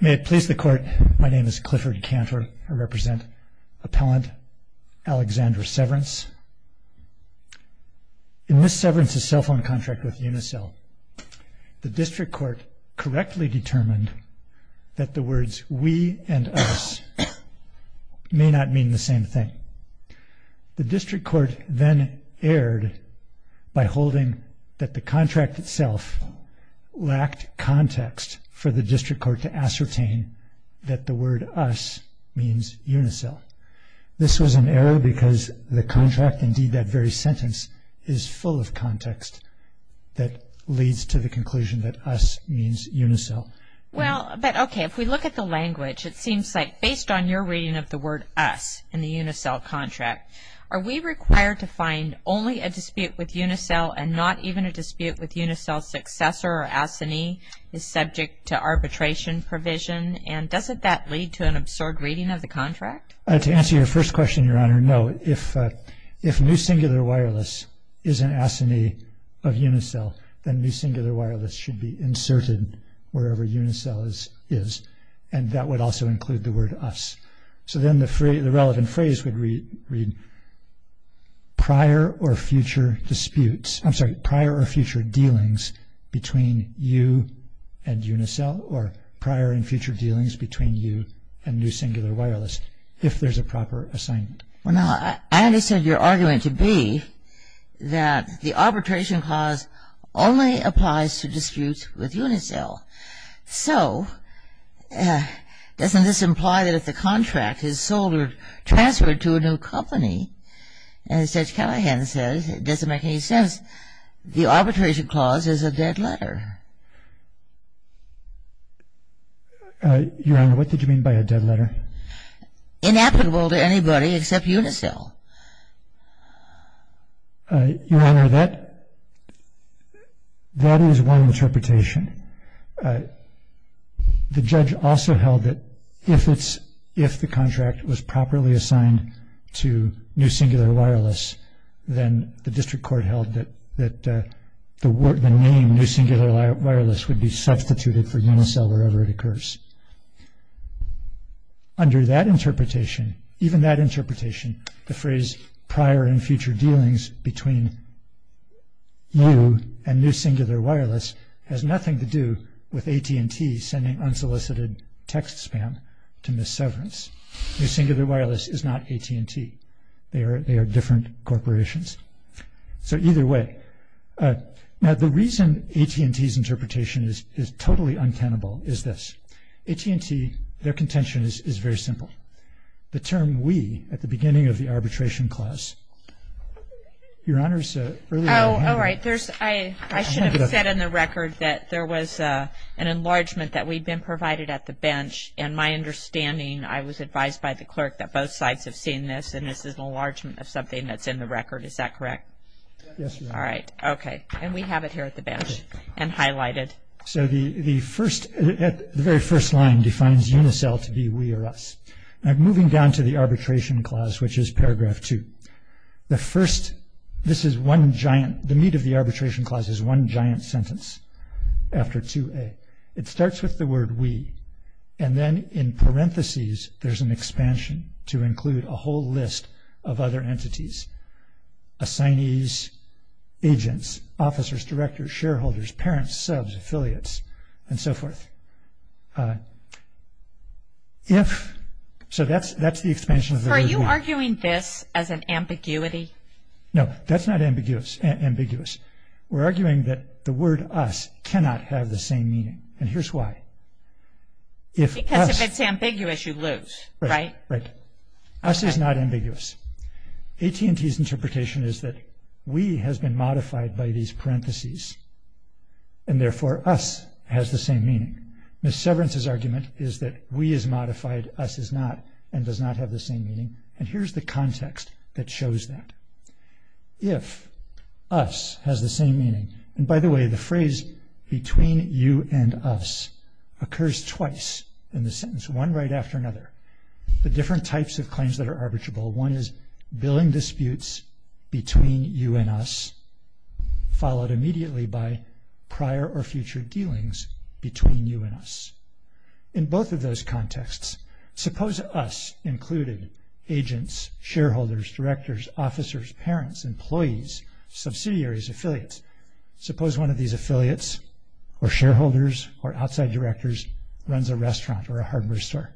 May it please the court. My name is Clifford Cantor. I represent appellant Alexandra Severance. In Ms. Severance's cell phone contract with Unicel, the district court correctly determined that the words we and us may not mean the same thing. The district court then erred by holding that the contract itself lacked context for the district court to ascertain that the word us means Unicel. This was an error because the contract, indeed that very sentence, is full of context that leads to the conclusion that us means Unicel. Well, but okay, if we look at the language, it seems like based on your reading of the word us in the Unicel contract, are we required to find only a dispute with is subject to arbitration provision, and doesn't that lead to an absurd reading of the contract? To answer your first question, Your Honor, no. If new singular wireless is an assignee of Unicel, then new singular wireless should be inserted wherever Unicel is, and that would also include the word us. So then the relevant phrase would read prior or future disputes, I'm you and Unicel, or prior and future dealings between you and new singular wireless, if there's a proper assignment. Well now, I understand your argument to be that the arbitration clause only applies to disputes with Unicel. So, doesn't this imply that if the contract is sold or transferred to a new company, as Judge Callahan says, it doesn't make any sense. The arbitration clause is a dead letter. Your Honor, what did you mean by a dead letter? Inapplicable to anybody except Unicel. Your Honor, that is one interpretation. The judge also held that if the contract was properly assigned to new singular wireless, then the district court held that the name new singular wireless would be substituted for Unicel wherever it occurs. Under that interpretation, even that interpretation, the phrase prior and future dealings between you and new singular wireless has nothing to do with AT&T sending unsolicited text spam to Ms. Severance. New singular wireless is not AT&T. They are different corporations. So, either way. Now, the reason AT&T's interpretation is totally untenable is this. AT&T, their contention is very simple. The term we, at the beginning of the arbitration clause. Your Honor's earlier argument. Oh, all right. There's, I should have said in the record that there was an enlargement that we'd been provided at the bench, and my understanding, I was advised by the clerk that both sides have seen this, and this is an enlargement of something that's in the record. Is that correct? Yes, Your Honor. All right. Okay. And we have it here at the bench, and highlighted. So, the first, the very first line defines Unicel to be we or us. Now, moving down to the arbitration clause, which is paragraph two. The first, this is one giant, the meat of the arbitration clause is one giant sentence after 2A. It starts with the word we, and then in parentheses, there's an expansion to include a whole list of other entities. Assignees, agents, officers, directors, shareholders, parents, subs, affiliates, and so forth. If, so that's, that's the expansion. Are you arguing this as an ambiguity? No, that's not ambiguous, ambiguous. We're arguing that the word us cannot have the same meaning, and here's why. Because if it's ambiguous, you lose, right? Right. Us is not ambiguous. AT&T's interpretation is that we has been modified by these parentheses, and therefore us has the same meaning. Ms. Severance's argument is that we is modified, us is not, and does not have the same meaning, and here's the context that shows that. If us has the same meaning, and by the way, the phrase between you and us occurs twice in the sentence, one right after another. The different types of claims that are arbitrable, one is billing disputes between you and us, followed immediately by prior or future dealings between you and us. In both of those contexts, suppose us included agents, shareholders, directors, officers, parents, employees, subsidiaries, affiliates. Suppose one of these affiliates, or shareholders, or outside directors, runs a restaurant or a hardware store,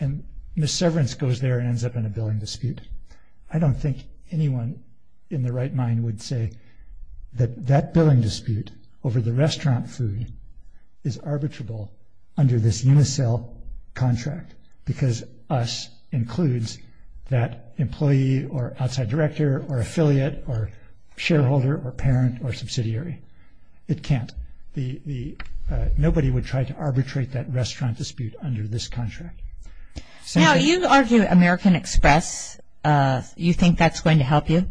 and Ms. Severance goes there and ends up in a billing dispute. I don't think anyone in their right mind would say that that billing dispute over the restaurant food is arbitrable under this unicel contract, because us includes that employee, or outside director, or affiliate, or shareholder, or parent, or it can't. The, the, nobody would try to arbitrate that restaurant dispute under this contract. Now, you argue American Express, you think that's going to help you?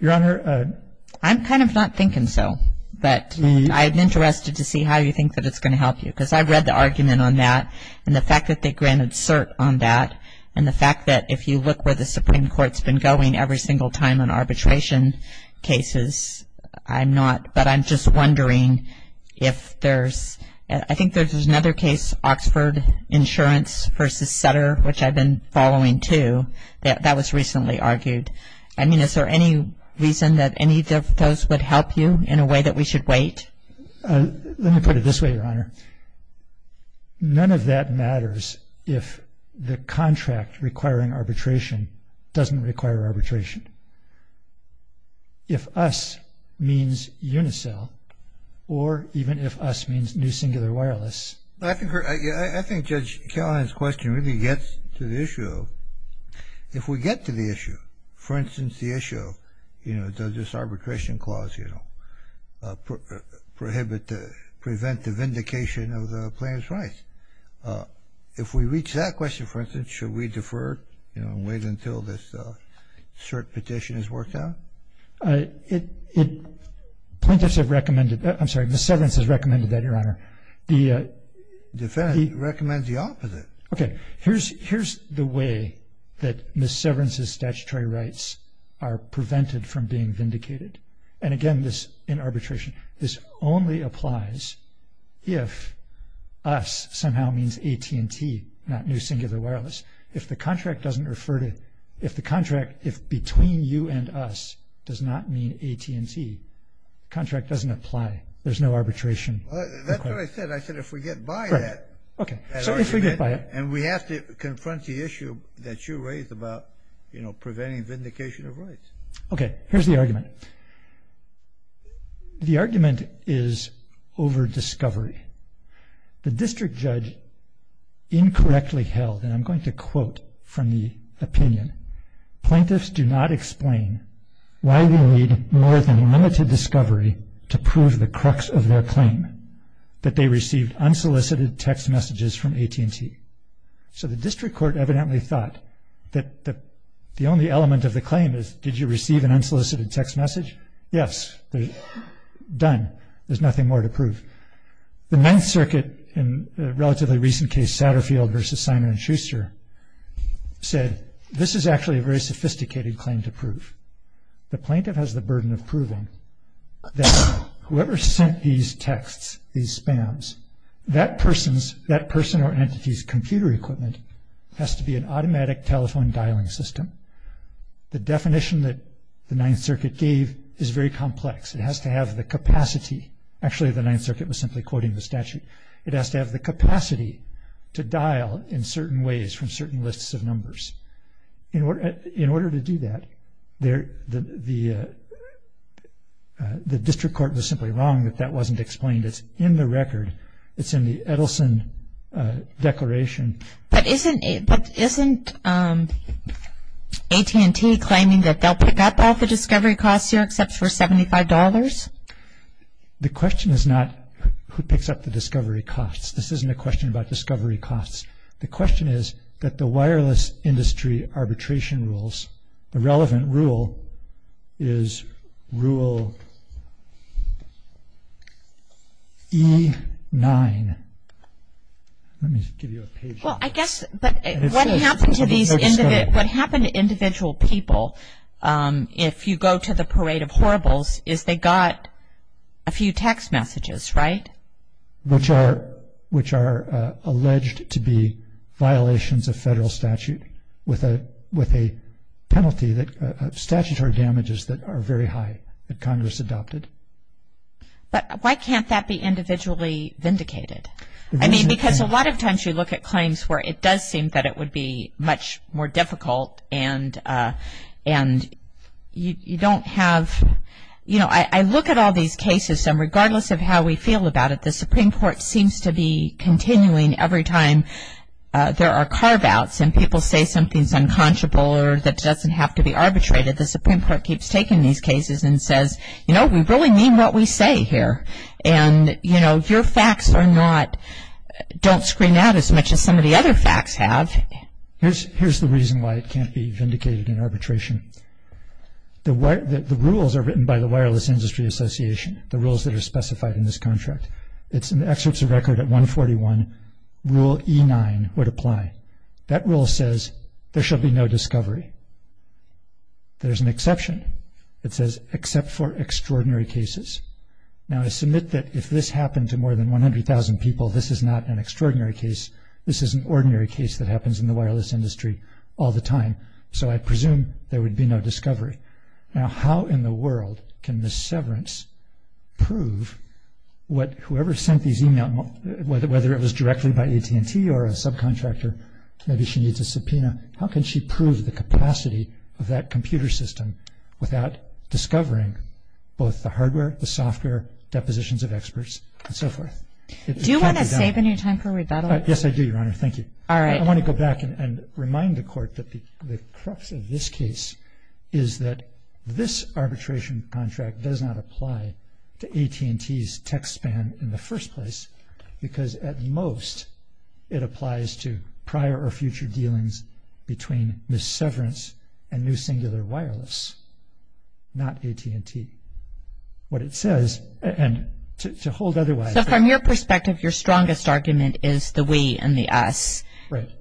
Your Honor, I'm kind of not thinking so, but I'm interested to see how you think that it's going to help you, because I've read the argument on that, and the fact that they granted cert on that, and the fact that if you look where the Supreme Court is in arbitration cases, I'm not, but I'm just wondering if there's, I think there's, there's another case, Oxford Insurance versus Sutter, which I've been following too, that, that was recently argued. I mean, is there any reason that any of those would help you in a way that we should wait? Let me put it this way, Your Honor. None of that matters if the contract requiring arbitration doesn't require arbitration. If us means Unicell, or even if us means New Singular Wireless. I think, I, I think Judge Callahan's question really gets to the issue of, if we get to the issue, for instance, the issue of, you know, does this arbitration clause, you know, prohibit the, prevent the vindication of the plaintiff's rights? If we reach that question, for instance, should we defer, you know, and wait until this cert petition is worked out? It, it, plaintiffs have recommended, I'm sorry, Ms. Severance has recommended that, Your Honor. The defendant recommends the opposite. Okay. Here's, here's the way that Ms. Severance's statutory rights are prevented from being vindicated. And again, this, in arbitration, this only applies if us somehow means AT&T, not New Singular Wireless. If the contract doesn't refer to, if the contract, if between you and us does not mean AT&T, contract doesn't apply. There's no arbitration. That's what I said. I said, if we get by that, that argument, and we have to confront the issue that you raised about, you know, preventing vindication of rights. Okay. Here's the argument. The argument is over discovery. The district judge incorrectly held, and I'm going to quote from the opinion, plaintiffs do not explain why we need more than limited discovery to prove the crux of their claim, that they received unsolicited text messages from AT&T. So the district court evidently thought that the, the only element of the claim is, did you receive an unsolicited text message? Yes. Done. There's nothing more to prove. The Ninth Circuit in a relatively recent case, Satterfield versus Simon and Schuster said, this is actually a very sophisticated claim to prove. The plaintiff has the burden of proving that whoever sent these texts, these spams, that person's, that person or entity's computer equipment has to be an automatic telephone dialing system. The definition that the Ninth Circuit gave is very complex. It has to have the capacity. Actually, the Ninth Circuit was simply quoting the statute. It has to have the capacity to dial in certain ways from certain lists of numbers. In order, in order to do that, there, the, the, the district court was simply wrong that that wasn't explained. It's in the record. It's in the Edelson declaration. But isn't, but isn't AT&T claiming that they'll pick up all the discovery costs here except for $75? The question is not who picks up the discovery costs. This isn't a question about discovery costs. The question is that the wireless industry arbitration rules, the relevant rule is rule E9. Let me give you a page. Well, I guess, but what happened to these, what happened to individual people? If you go to the parade of horribles, is they got a few text messages, right? Which are, which are alleged to be violations of federal statute with a, with a penalty that statutory damages that are very high that Congress adopted. But why can't that be individually vindicated? I mean, because a lot of times you look at claims where it does seem that it would be much more difficult and, and you, you don't have, you know, I, I look at all these cases and regardless of how we feel about it, the Supreme Court seems to be continuing every time there are carve outs and people say something's unconscionable or that doesn't have to be arbitrated, the Supreme Court keeps taking these cases and says, you know, we really mean what we say here. And, you know, your facts are not, don't screen out as much as some of the other facts have. Here's, here's the reason why it can't be vindicated in arbitration. The, the rules are written by the Wireless Industry Association, the rules that are specified in this contract. It's in the excerpts of record at 141, rule E9 would apply. That rule says there shall be no discovery. There's an exception. It says except for extraordinary cases. Now I submit that if this happened to more than 100,000 people, this is not an extraordinary case. This is an ordinary case that happens in the wireless industry all the time. So I presume there would be no discovery. Now, how in the world can the severance prove what whoever sent these email, whether it was directly by AT&T or a subcontractor, maybe she needs a subpoena. How can she prove the capacity of that computer system without discovering both the hardware, the software, depositions of experts and so forth? Do you want to save any time for rebuttal? Yes, I do, Your Honor. Thank you. All right. I want to go back and remind the court that the crux of this case is that this arbitration contract does not apply to AT&T's tech span in the first place because at most it applies to prior or future dealings between Ms. Severance and New Singular Wireless, not AT&T. What it says, and to hold otherwise. So from your perspective, your strongest argument is the we and the us,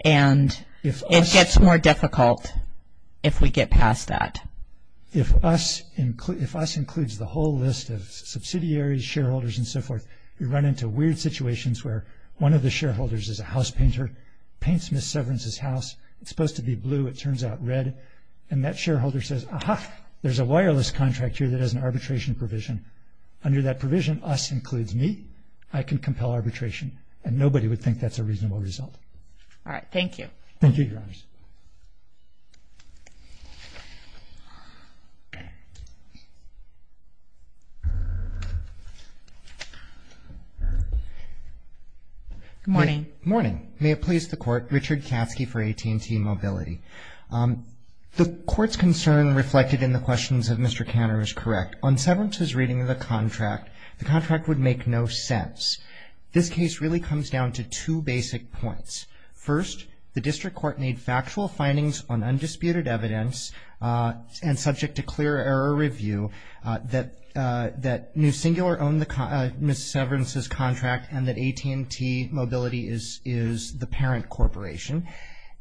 and it gets more difficult if we get past that. If us includes the whole list of subsidiaries, shareholders and so forth, we run into weird situations where one of the shareholders is a house painter, paints Ms. Severance's house. It's supposed to be blue. It turns out red. And that shareholder says, aha, there's a wireless contractor that has an arbitration provision. Under that provision, us includes me, I can compel arbitration. And nobody would think that's a reasonable result. All right. Thank you. Thank you, Your Honors. Good morning. Morning. May it please the court. Richard Katsky for AT&T Mobility. The court's concern reflected in the questions of Mr. Kanner is correct. On Severance's reading of the contract, the contract would make no sense. This case really comes down to two basic points. First, the district court made factual findings on undisputed evidence and subject to clear error review that New Singular owned Ms. Severance's contract and that AT&T Mobility is the parent corporation.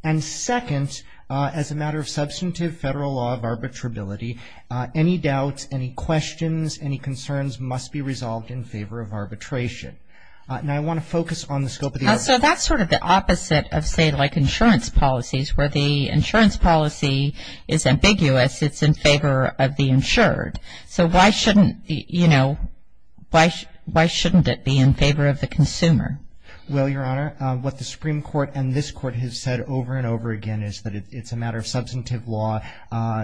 And second, as a matter of substantive federal law of arbitrability, any doubts, any questions, any concerns must be resolved in favor of arbitration. And I want to focus on the scope of the argument. So that's sort of the opposite of say like insurance policies where the insurance policy is ambiguous. It's in favor of the insured. So why shouldn't, you know, why shouldn't it be in favor of the consumer? Well, Your Honor, what the Supreme Court and this court has said over and over again is that it's a matter of substantive law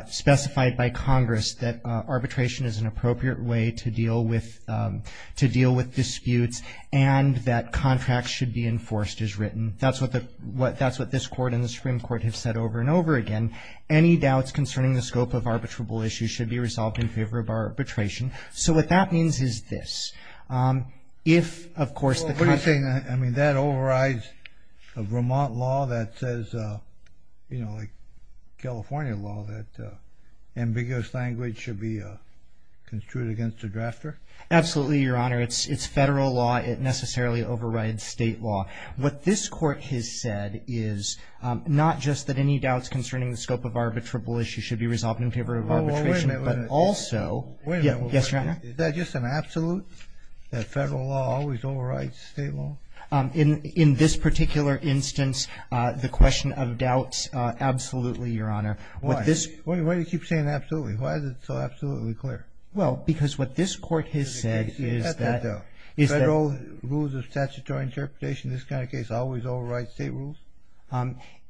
specified by Congress that arbitration is an appropriate way to deal with to deal with disputes and that contracts should be enforced as written. That's what the what that's what this court and the Supreme Court have said over and over again. Any doubts concerning the scope of arbitrable issues should be resolved in favor of arbitration. So what that means is this. If, of course, what do you think? I mean, that overrides a Vermont law that says, you know, like California law, that ambiguous language should be construed against the drafter. Absolutely, Your Honor. It's it's federal law. It necessarily overrides state law. What this court has said is not just that any doubts concerning the scope of arbitrable issues should be resolved in favor of arbitration, but also. Yes, Your Honor. Is that just an absolute that federal law always overrides state law? In in this particular instance, the question of doubts. Absolutely, Your Honor. What this way to keep saying absolutely. Why is it so absolutely clear? Well, because what this court has said is that federal rules of statutory interpretation, this kind of case always overrides state rules.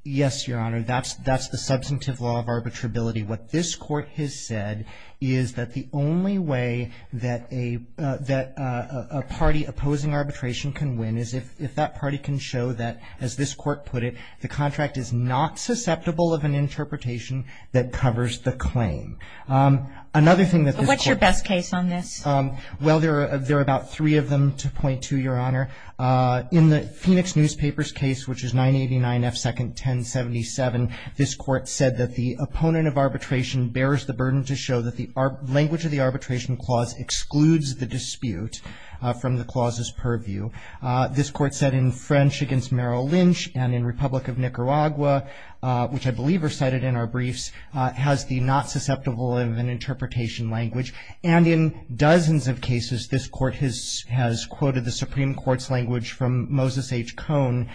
Yes, Your Honor. That's that's the substantive law of arbitrability. What this court has said is that the only way that a that a party opposing arbitration can win is if if that party can show that, as this court put it, the contract is not susceptible of an interpretation that covers the claim. Another thing that. What's your best case on this? Well, there are there are about three of them to point to, Your Honor. In the Phoenix Newspaper's case, which is 989 F second 1077, this court said that the opponent of arbitration bears the burden to show that the language of the arbitration clause excludes the dispute from the clauses purview. This court said in French against Merrill Lynch and in Republic of Nicaragua, which I believe are cited in our briefs, has the not susceptible of an interpretation language. And in dozens of cases, this court has has quoted the Supreme Court's language from Moses H. Cohn,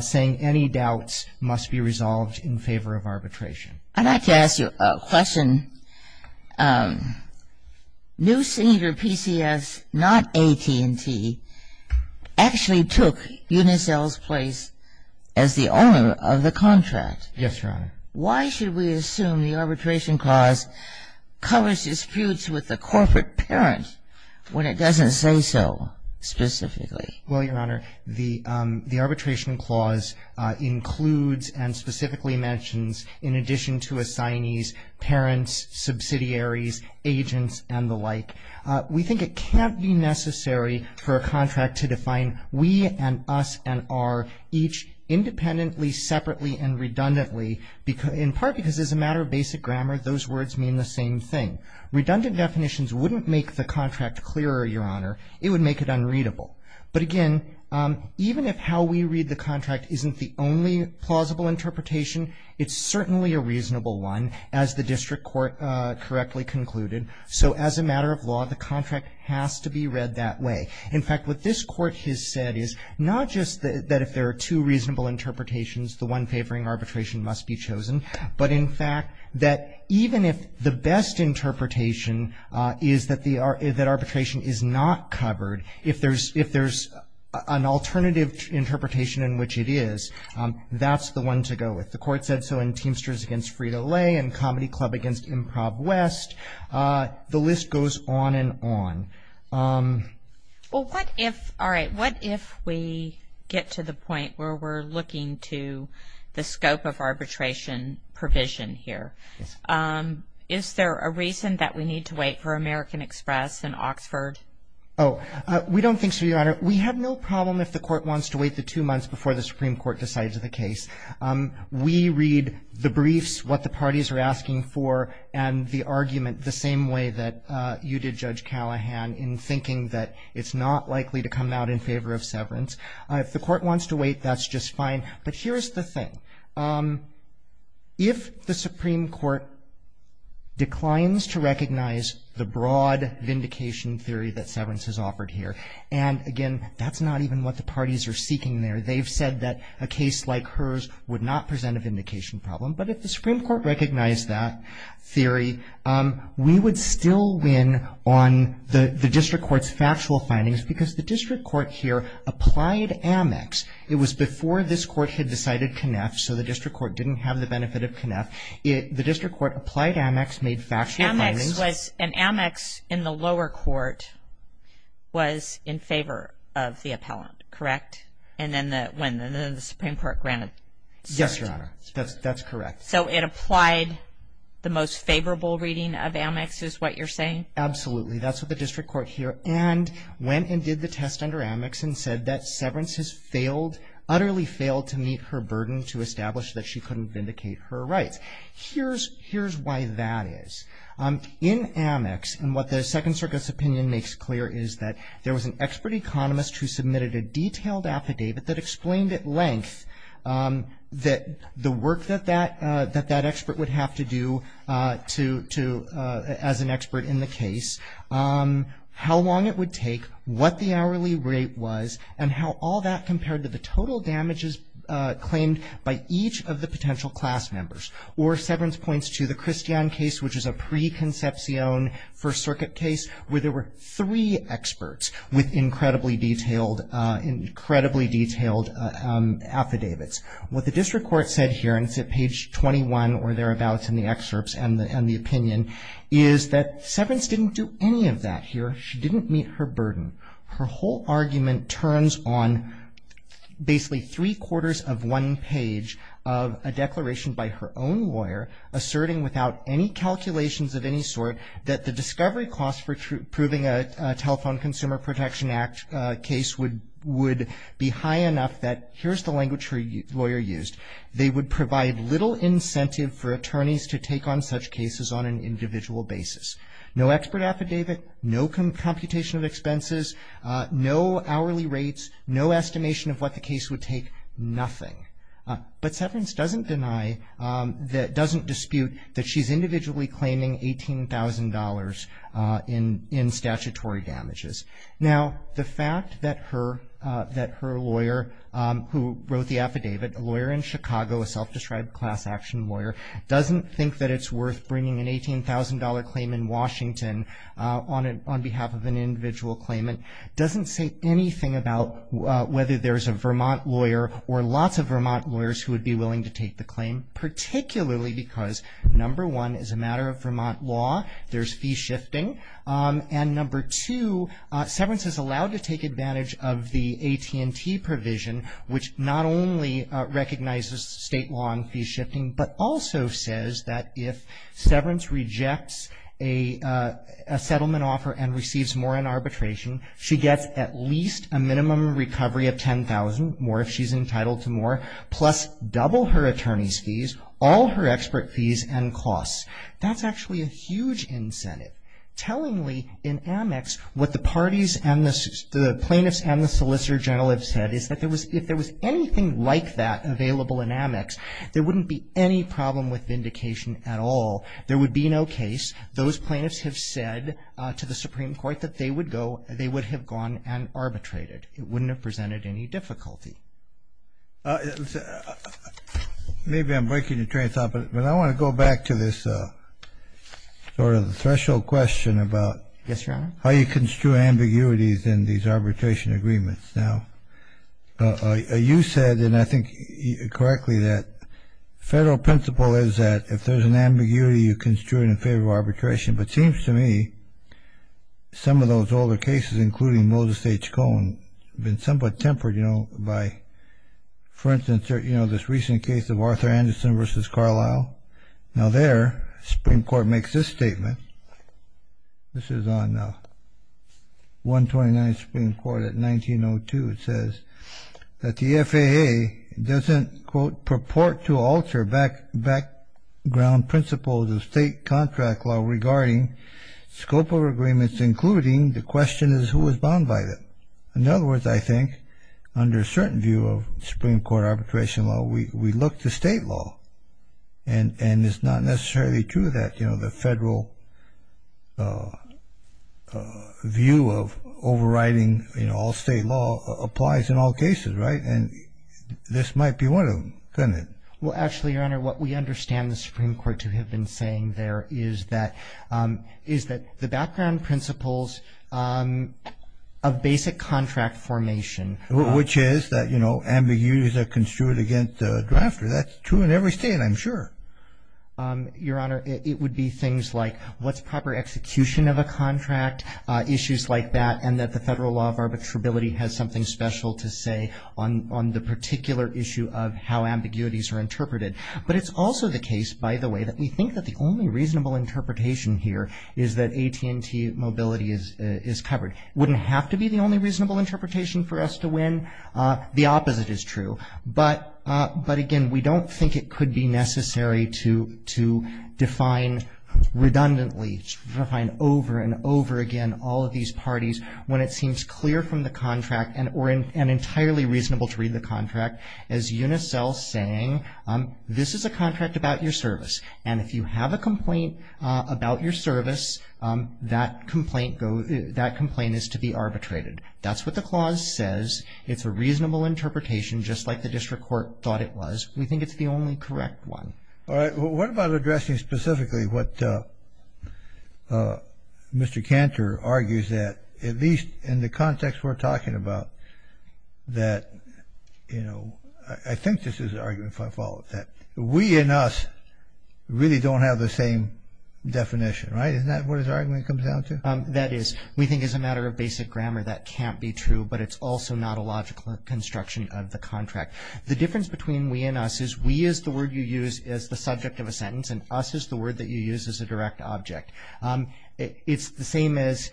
saying any doubts must be resolved in favor of arbitration. I'd like to ask you a question. New Cedar PCS, not AT&T, actually took Unicel's place as the owner of the contract. Yes, Your Honor. Why should we assume the arbitration clause covers disputes with the corporate parent when it doesn't say so specifically? Well, Your Honor, the the arbitration clause includes and specifically mentions in addition to assignees, parents, subsidiaries, agents and the like. We think it can't be necessary for a contract to define we and us and our each independently, separately and redundantly, in part because as a matter of basic grammar, those words mean the same thing. Redundant definitions wouldn't make the contract clearer, Your Honor. It would make it unreadable. But again, even if how we read the contract isn't the only plausible interpretation, it's certainly a reasonable one, as the district court correctly concluded. So as a matter of law, the contract has to be read that way. In fact, what this court has said is not just that if there are two reasonable interpretations, the one favoring arbitration must be chosen. But in fact, that even if the best interpretation is that the arbitration is not covered, if there's an alternative interpretation in which it is, that's the one to go with. The court said so in Teamsters against Frida Lay and Comedy Club against Improv West. The list goes on and on. Well, what if all right, what if we get to the point where we're looking to the scope of arbitration provision here? Is there a reason that we need to wait for American Express and Oxford? Oh, we don't think so, Your Honor. We have no problem if the court wants to wait the two months before the Supreme Court decides the case. We read the briefs, what the parties are asking for, and the argument the same way that you did, Judge Callahan, in thinking that it's not likely to come out in favor of severance. If the court wants to wait, that's just fine. But here's the thing. If the Supreme Court declines to recognize the broad vindication theory that severance is offered here, and again, that's not even what the parties are seeking there. They've said that a case like hers would not present a vindication problem. But if the Supreme Court recognized that theory, we would still win on the district court's factual findings because the district court here applied Amex. It was before this court had decided Conneff, so the district court didn't have the benefit of Conneff. The district court applied Amex, made factual findings. Amex was, and Amex in the lower court was in favor of the appellant, correct? And then the, when the Supreme Court granted. Yes, Your Honor, that's correct. So it applied the most favorable reading of Amex is what you're saying? Absolutely. That's what the district court here, and went and did the test under Amex and said that severance has failed, utterly failed to meet her burden to establish that she couldn't vindicate her rights. Here's why that is. In Amex, and what the Second Circuit's opinion makes clear is that there was an expert economist who submitted a detailed affidavit that explained at length that the work that that, that that expert would have to do to, to as an expert in the case, how long it would take, what the hourly rate was, and how all that compared to the total damages claimed by each of the potential class members. Or severance points to the Christian case, which is a preconception First Circuit case where there were three experts with incredibly detailed, incredibly detailed affidavits. What the district court said here, and it's at page 21 or thereabouts in the excerpts and the, and the opinion, is that severance didn't do any of that here. She didn't meet her burden. Her whole argument turns on basically three quarters of one page of a declaration by her own lawyer, asserting without any calculations of any sort that the discovery cost for proving a Telephone Consumer Protection Act case would, would be high enough that, here's the language her lawyer used, they would provide little incentive for attorneys to take on such cases on an individual basis. No expert affidavit, no computation of expenses, no hourly rates, no estimation of what the case would take, nothing. But severance doesn't deny that, doesn't dispute that she's individually claiming $18,000 in, in statutory damages. Now, the fact that her, that her lawyer who wrote the affidavit, a lawyer in Chicago, a self-described class action lawyer, doesn't think that it's worth bringing an $18,000 claim in Washington on a, on behalf of an individual claimant, doesn't say anything about whether there's a Vermont lawyer or lots of Vermont lawyers who would be willing to take the claim, particularly because, number one, as a matter of Vermont law, there's fee shifting, and number two, severance is allowed to take advantage of the AT&T provision, which not only recognizes state law and fee shifting, but also says that if severance rejects a, a settlement offer and receives more in arbitration, she gets at least a minimum recovery of $10,000, more if she's entitled to more, plus double her attorney's fees, all her expert fees and costs. That's actually a huge incentive. Tellingly, in Amex, what the parties and the plaintiffs and the solicitor general have said is that there was, if there was anything like that available in Amex, there wouldn't be any problem with vindication at all. There would be no case. Those plaintiffs have said to the Supreme Court that they would go, they would have gone and arbitrated. It wouldn't have presented any difficulty. Maybe I'm breaking your train of thought, but I want to go back to this sort of threshold question about how you construe ambiguities in these arbitration agreements. Now, you said, and I think correctly, that the federal principle is that if there's an ambiguity, you construe it in favor of arbitration. But it seems to me some of those older cases, including Moses H. Cohen, have been somewhat tempered, you know, by, for instance, you know, this recent case of Arthur Anderson versus Carlisle. Now, there, the Supreme Court makes this statement. This is on 129th Supreme Court at 1902. It says that the FAA doesn't, quote, purport to alter background principles of state contract law regarding scope of agreements, including the question is who is bound by it. In other words, I think under a certain view of Supreme Court arbitration law, we look to state law. And it's not necessarily true that, you know, the federal view of overriding, you know, all state law applies in all cases, right? And this might be one of them, couldn't it? Well, actually, Your Honor, what we understand the Supreme Court to have been saying there is that, is that the background principles of basic contract formation. Which is that, you know, ambiguities are construed against the drafter. That's true in every state, I'm sure. Your Honor, it would be things like what's proper execution of a contract, issues like that, and that the federal law of arbitrability has something special to say on the particular issue of how ambiguities are interpreted. But it's also the case, by the way, that we think that the only reasonable interpretation here is that AT&T mobility is covered. Wouldn't have to be the only reasonable interpretation for us to win. The opposite is true. But again, we don't think it could be necessary to define redundantly, define over and over again all of these parties when it seems clear from the contract and entirely reasonable to read the contract as UNICEL saying, this is a contract about your service. And if you have a complaint about your service, that complaint is to be arbitrated. That's what the clause says. It's a reasonable interpretation, just like the district court thought it was. We think it's the only correct one. All right. Well, what about addressing specifically what Mr. Cantor argues that, at least in the context we're talking about, that, you know, I think this is an argument, if I follow it, that we and us really don't have the same definition, right? Isn't that what his argument comes down to? That is, we think as a matter of basic grammar, that can't be true. But it's also not a logical construction of the contract. The difference between we and us is we is the word you use as the subject of a sentence, and us is the word that you use as a direct object. It's the same as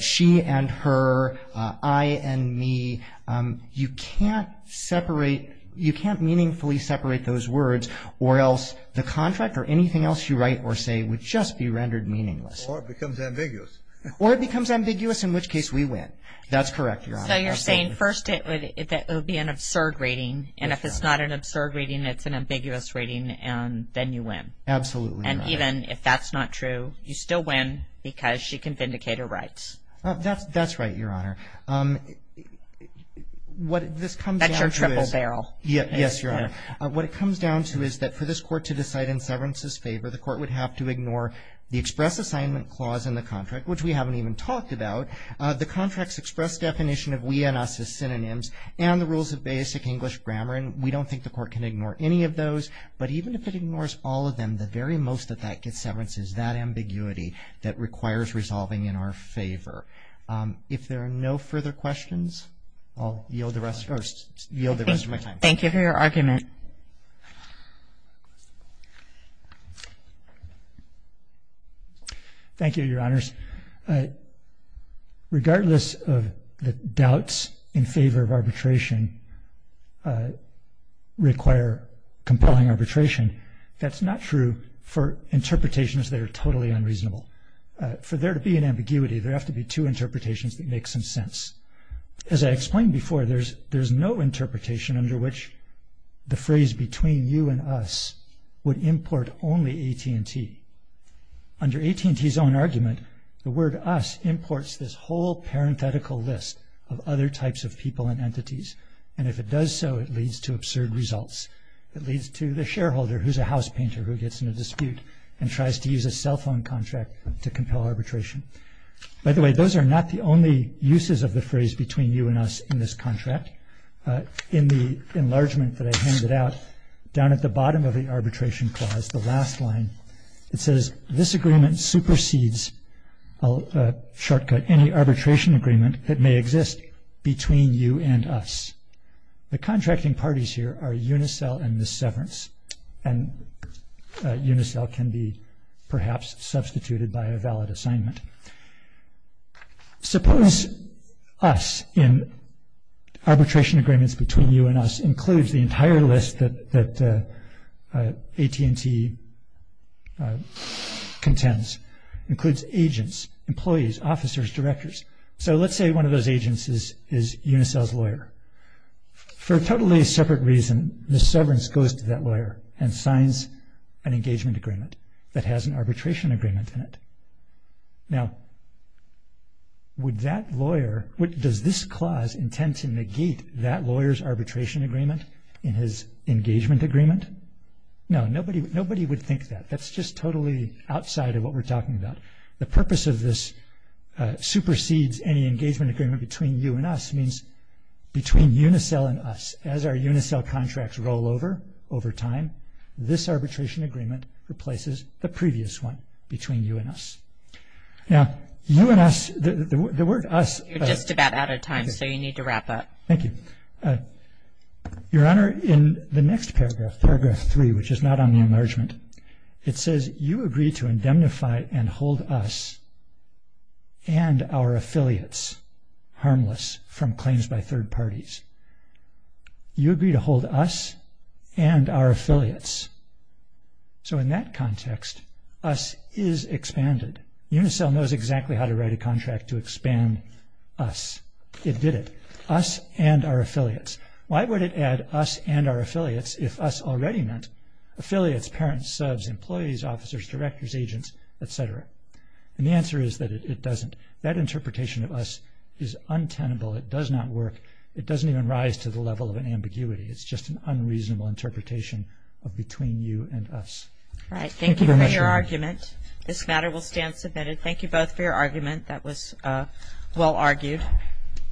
she and her, I and me. You can't separate, you can't meaningfully separate those words or else the contract or anything else you write or say would just be rendered meaningless. Or it becomes ambiguous. Or it becomes ambiguous, in which case we win. That's correct, Your Honor. So, you're saying first it would be an absurd reading, and if it's not an absurd reading, it's an ambiguous reading, and then you win. Absolutely, Your Honor. And even if that's not true, you still win because she can vindicate her rights. That's right, Your Honor. What this comes down to is. That's your triple barrel. Yes, Your Honor. What it comes down to is that for this court to decide in severance's favor, the court would have to ignore the express assignment clause in the contract, which we haven't even talked about. The contract's express definition of we and us is synonyms and the rules of basic English grammar, and we don't think the court can ignore any of those. But even if it ignores all of them, the very most that that gets severance is that ambiguity that requires resolving in our favor. If there are no further questions, I'll yield the rest of my time. Thank you for your argument. Thank you, Your Honors. Regardless of the doubts in favor of arbitration require compelling arbitration, that's not true for interpretations that are totally unreasonable. For there to be an ambiguity, there have to be two interpretations that make some sense. As I explained before, there's no interpretation under which the phrase between you and us would import only AT&T. Under AT&T's own argument, the word us imports this whole parenthetical list of other types of people and entities, and if it does so, it leads to absurd results. It leads to the shareholder, who's a house painter, who gets in a dispute and tries to use a cell phone contract to compel arbitration. By the way, those are not the only uses of the phrase between you and us in this contract. In the enlargement that I handed out, down at the bottom of the arbitration clause, the last line, it says, this agreement supersedes, I'll shortcut, any arbitration agreement that may exist between you and us. The contracting parties here are Unicell and Ms. Severance, and Unicell can be perhaps substituted by a valid assignment. Suppose us in arbitration agreements between you and us includes the entire list that AT&T contends, includes agents, employees, officers, directors. So let's say one of those agents is Unicell's lawyer. For a totally separate reason, Ms. Severance goes to that lawyer and signs an engagement agreement that has an arbitration agreement in it. Now, would that lawyer, does this clause intend to negate that lawyer's arbitration agreement in his engagement agreement? No, nobody would think that. That's just totally outside of what we're talking about. The purpose of this supersedes any engagement agreement between you and us means between Unicell and us. As our Unicell contracts roll over, over time, this arbitration agreement replaces the previous one between you and us. Now, you and us, the word us. You're just about out of time, so you need to wrap up. Thank you. Your Honor, in the next paragraph, paragraph three, which is not on the enlargement, it says you agree to indemnify and hold us and our affiliates harmless from claims by third parties. You agree to hold us and our affiliates. So in that context, us is expanded. Unicell knows exactly how to write a contract to expand us. It did it. Us and our affiliates. Why would it add us and our affiliates if us already meant affiliates, parents, subs, employees, officers, directors, agents, etc.? And the answer is that it doesn't. That interpretation of us is untenable. It does not work. It doesn't even rise to the level of an ambiguity. It's just an unreasonable interpretation of between you and us. Right. Thank you for your argument. This matter will stand submitted. Thank you both for your argument. That was well argued. Thank you.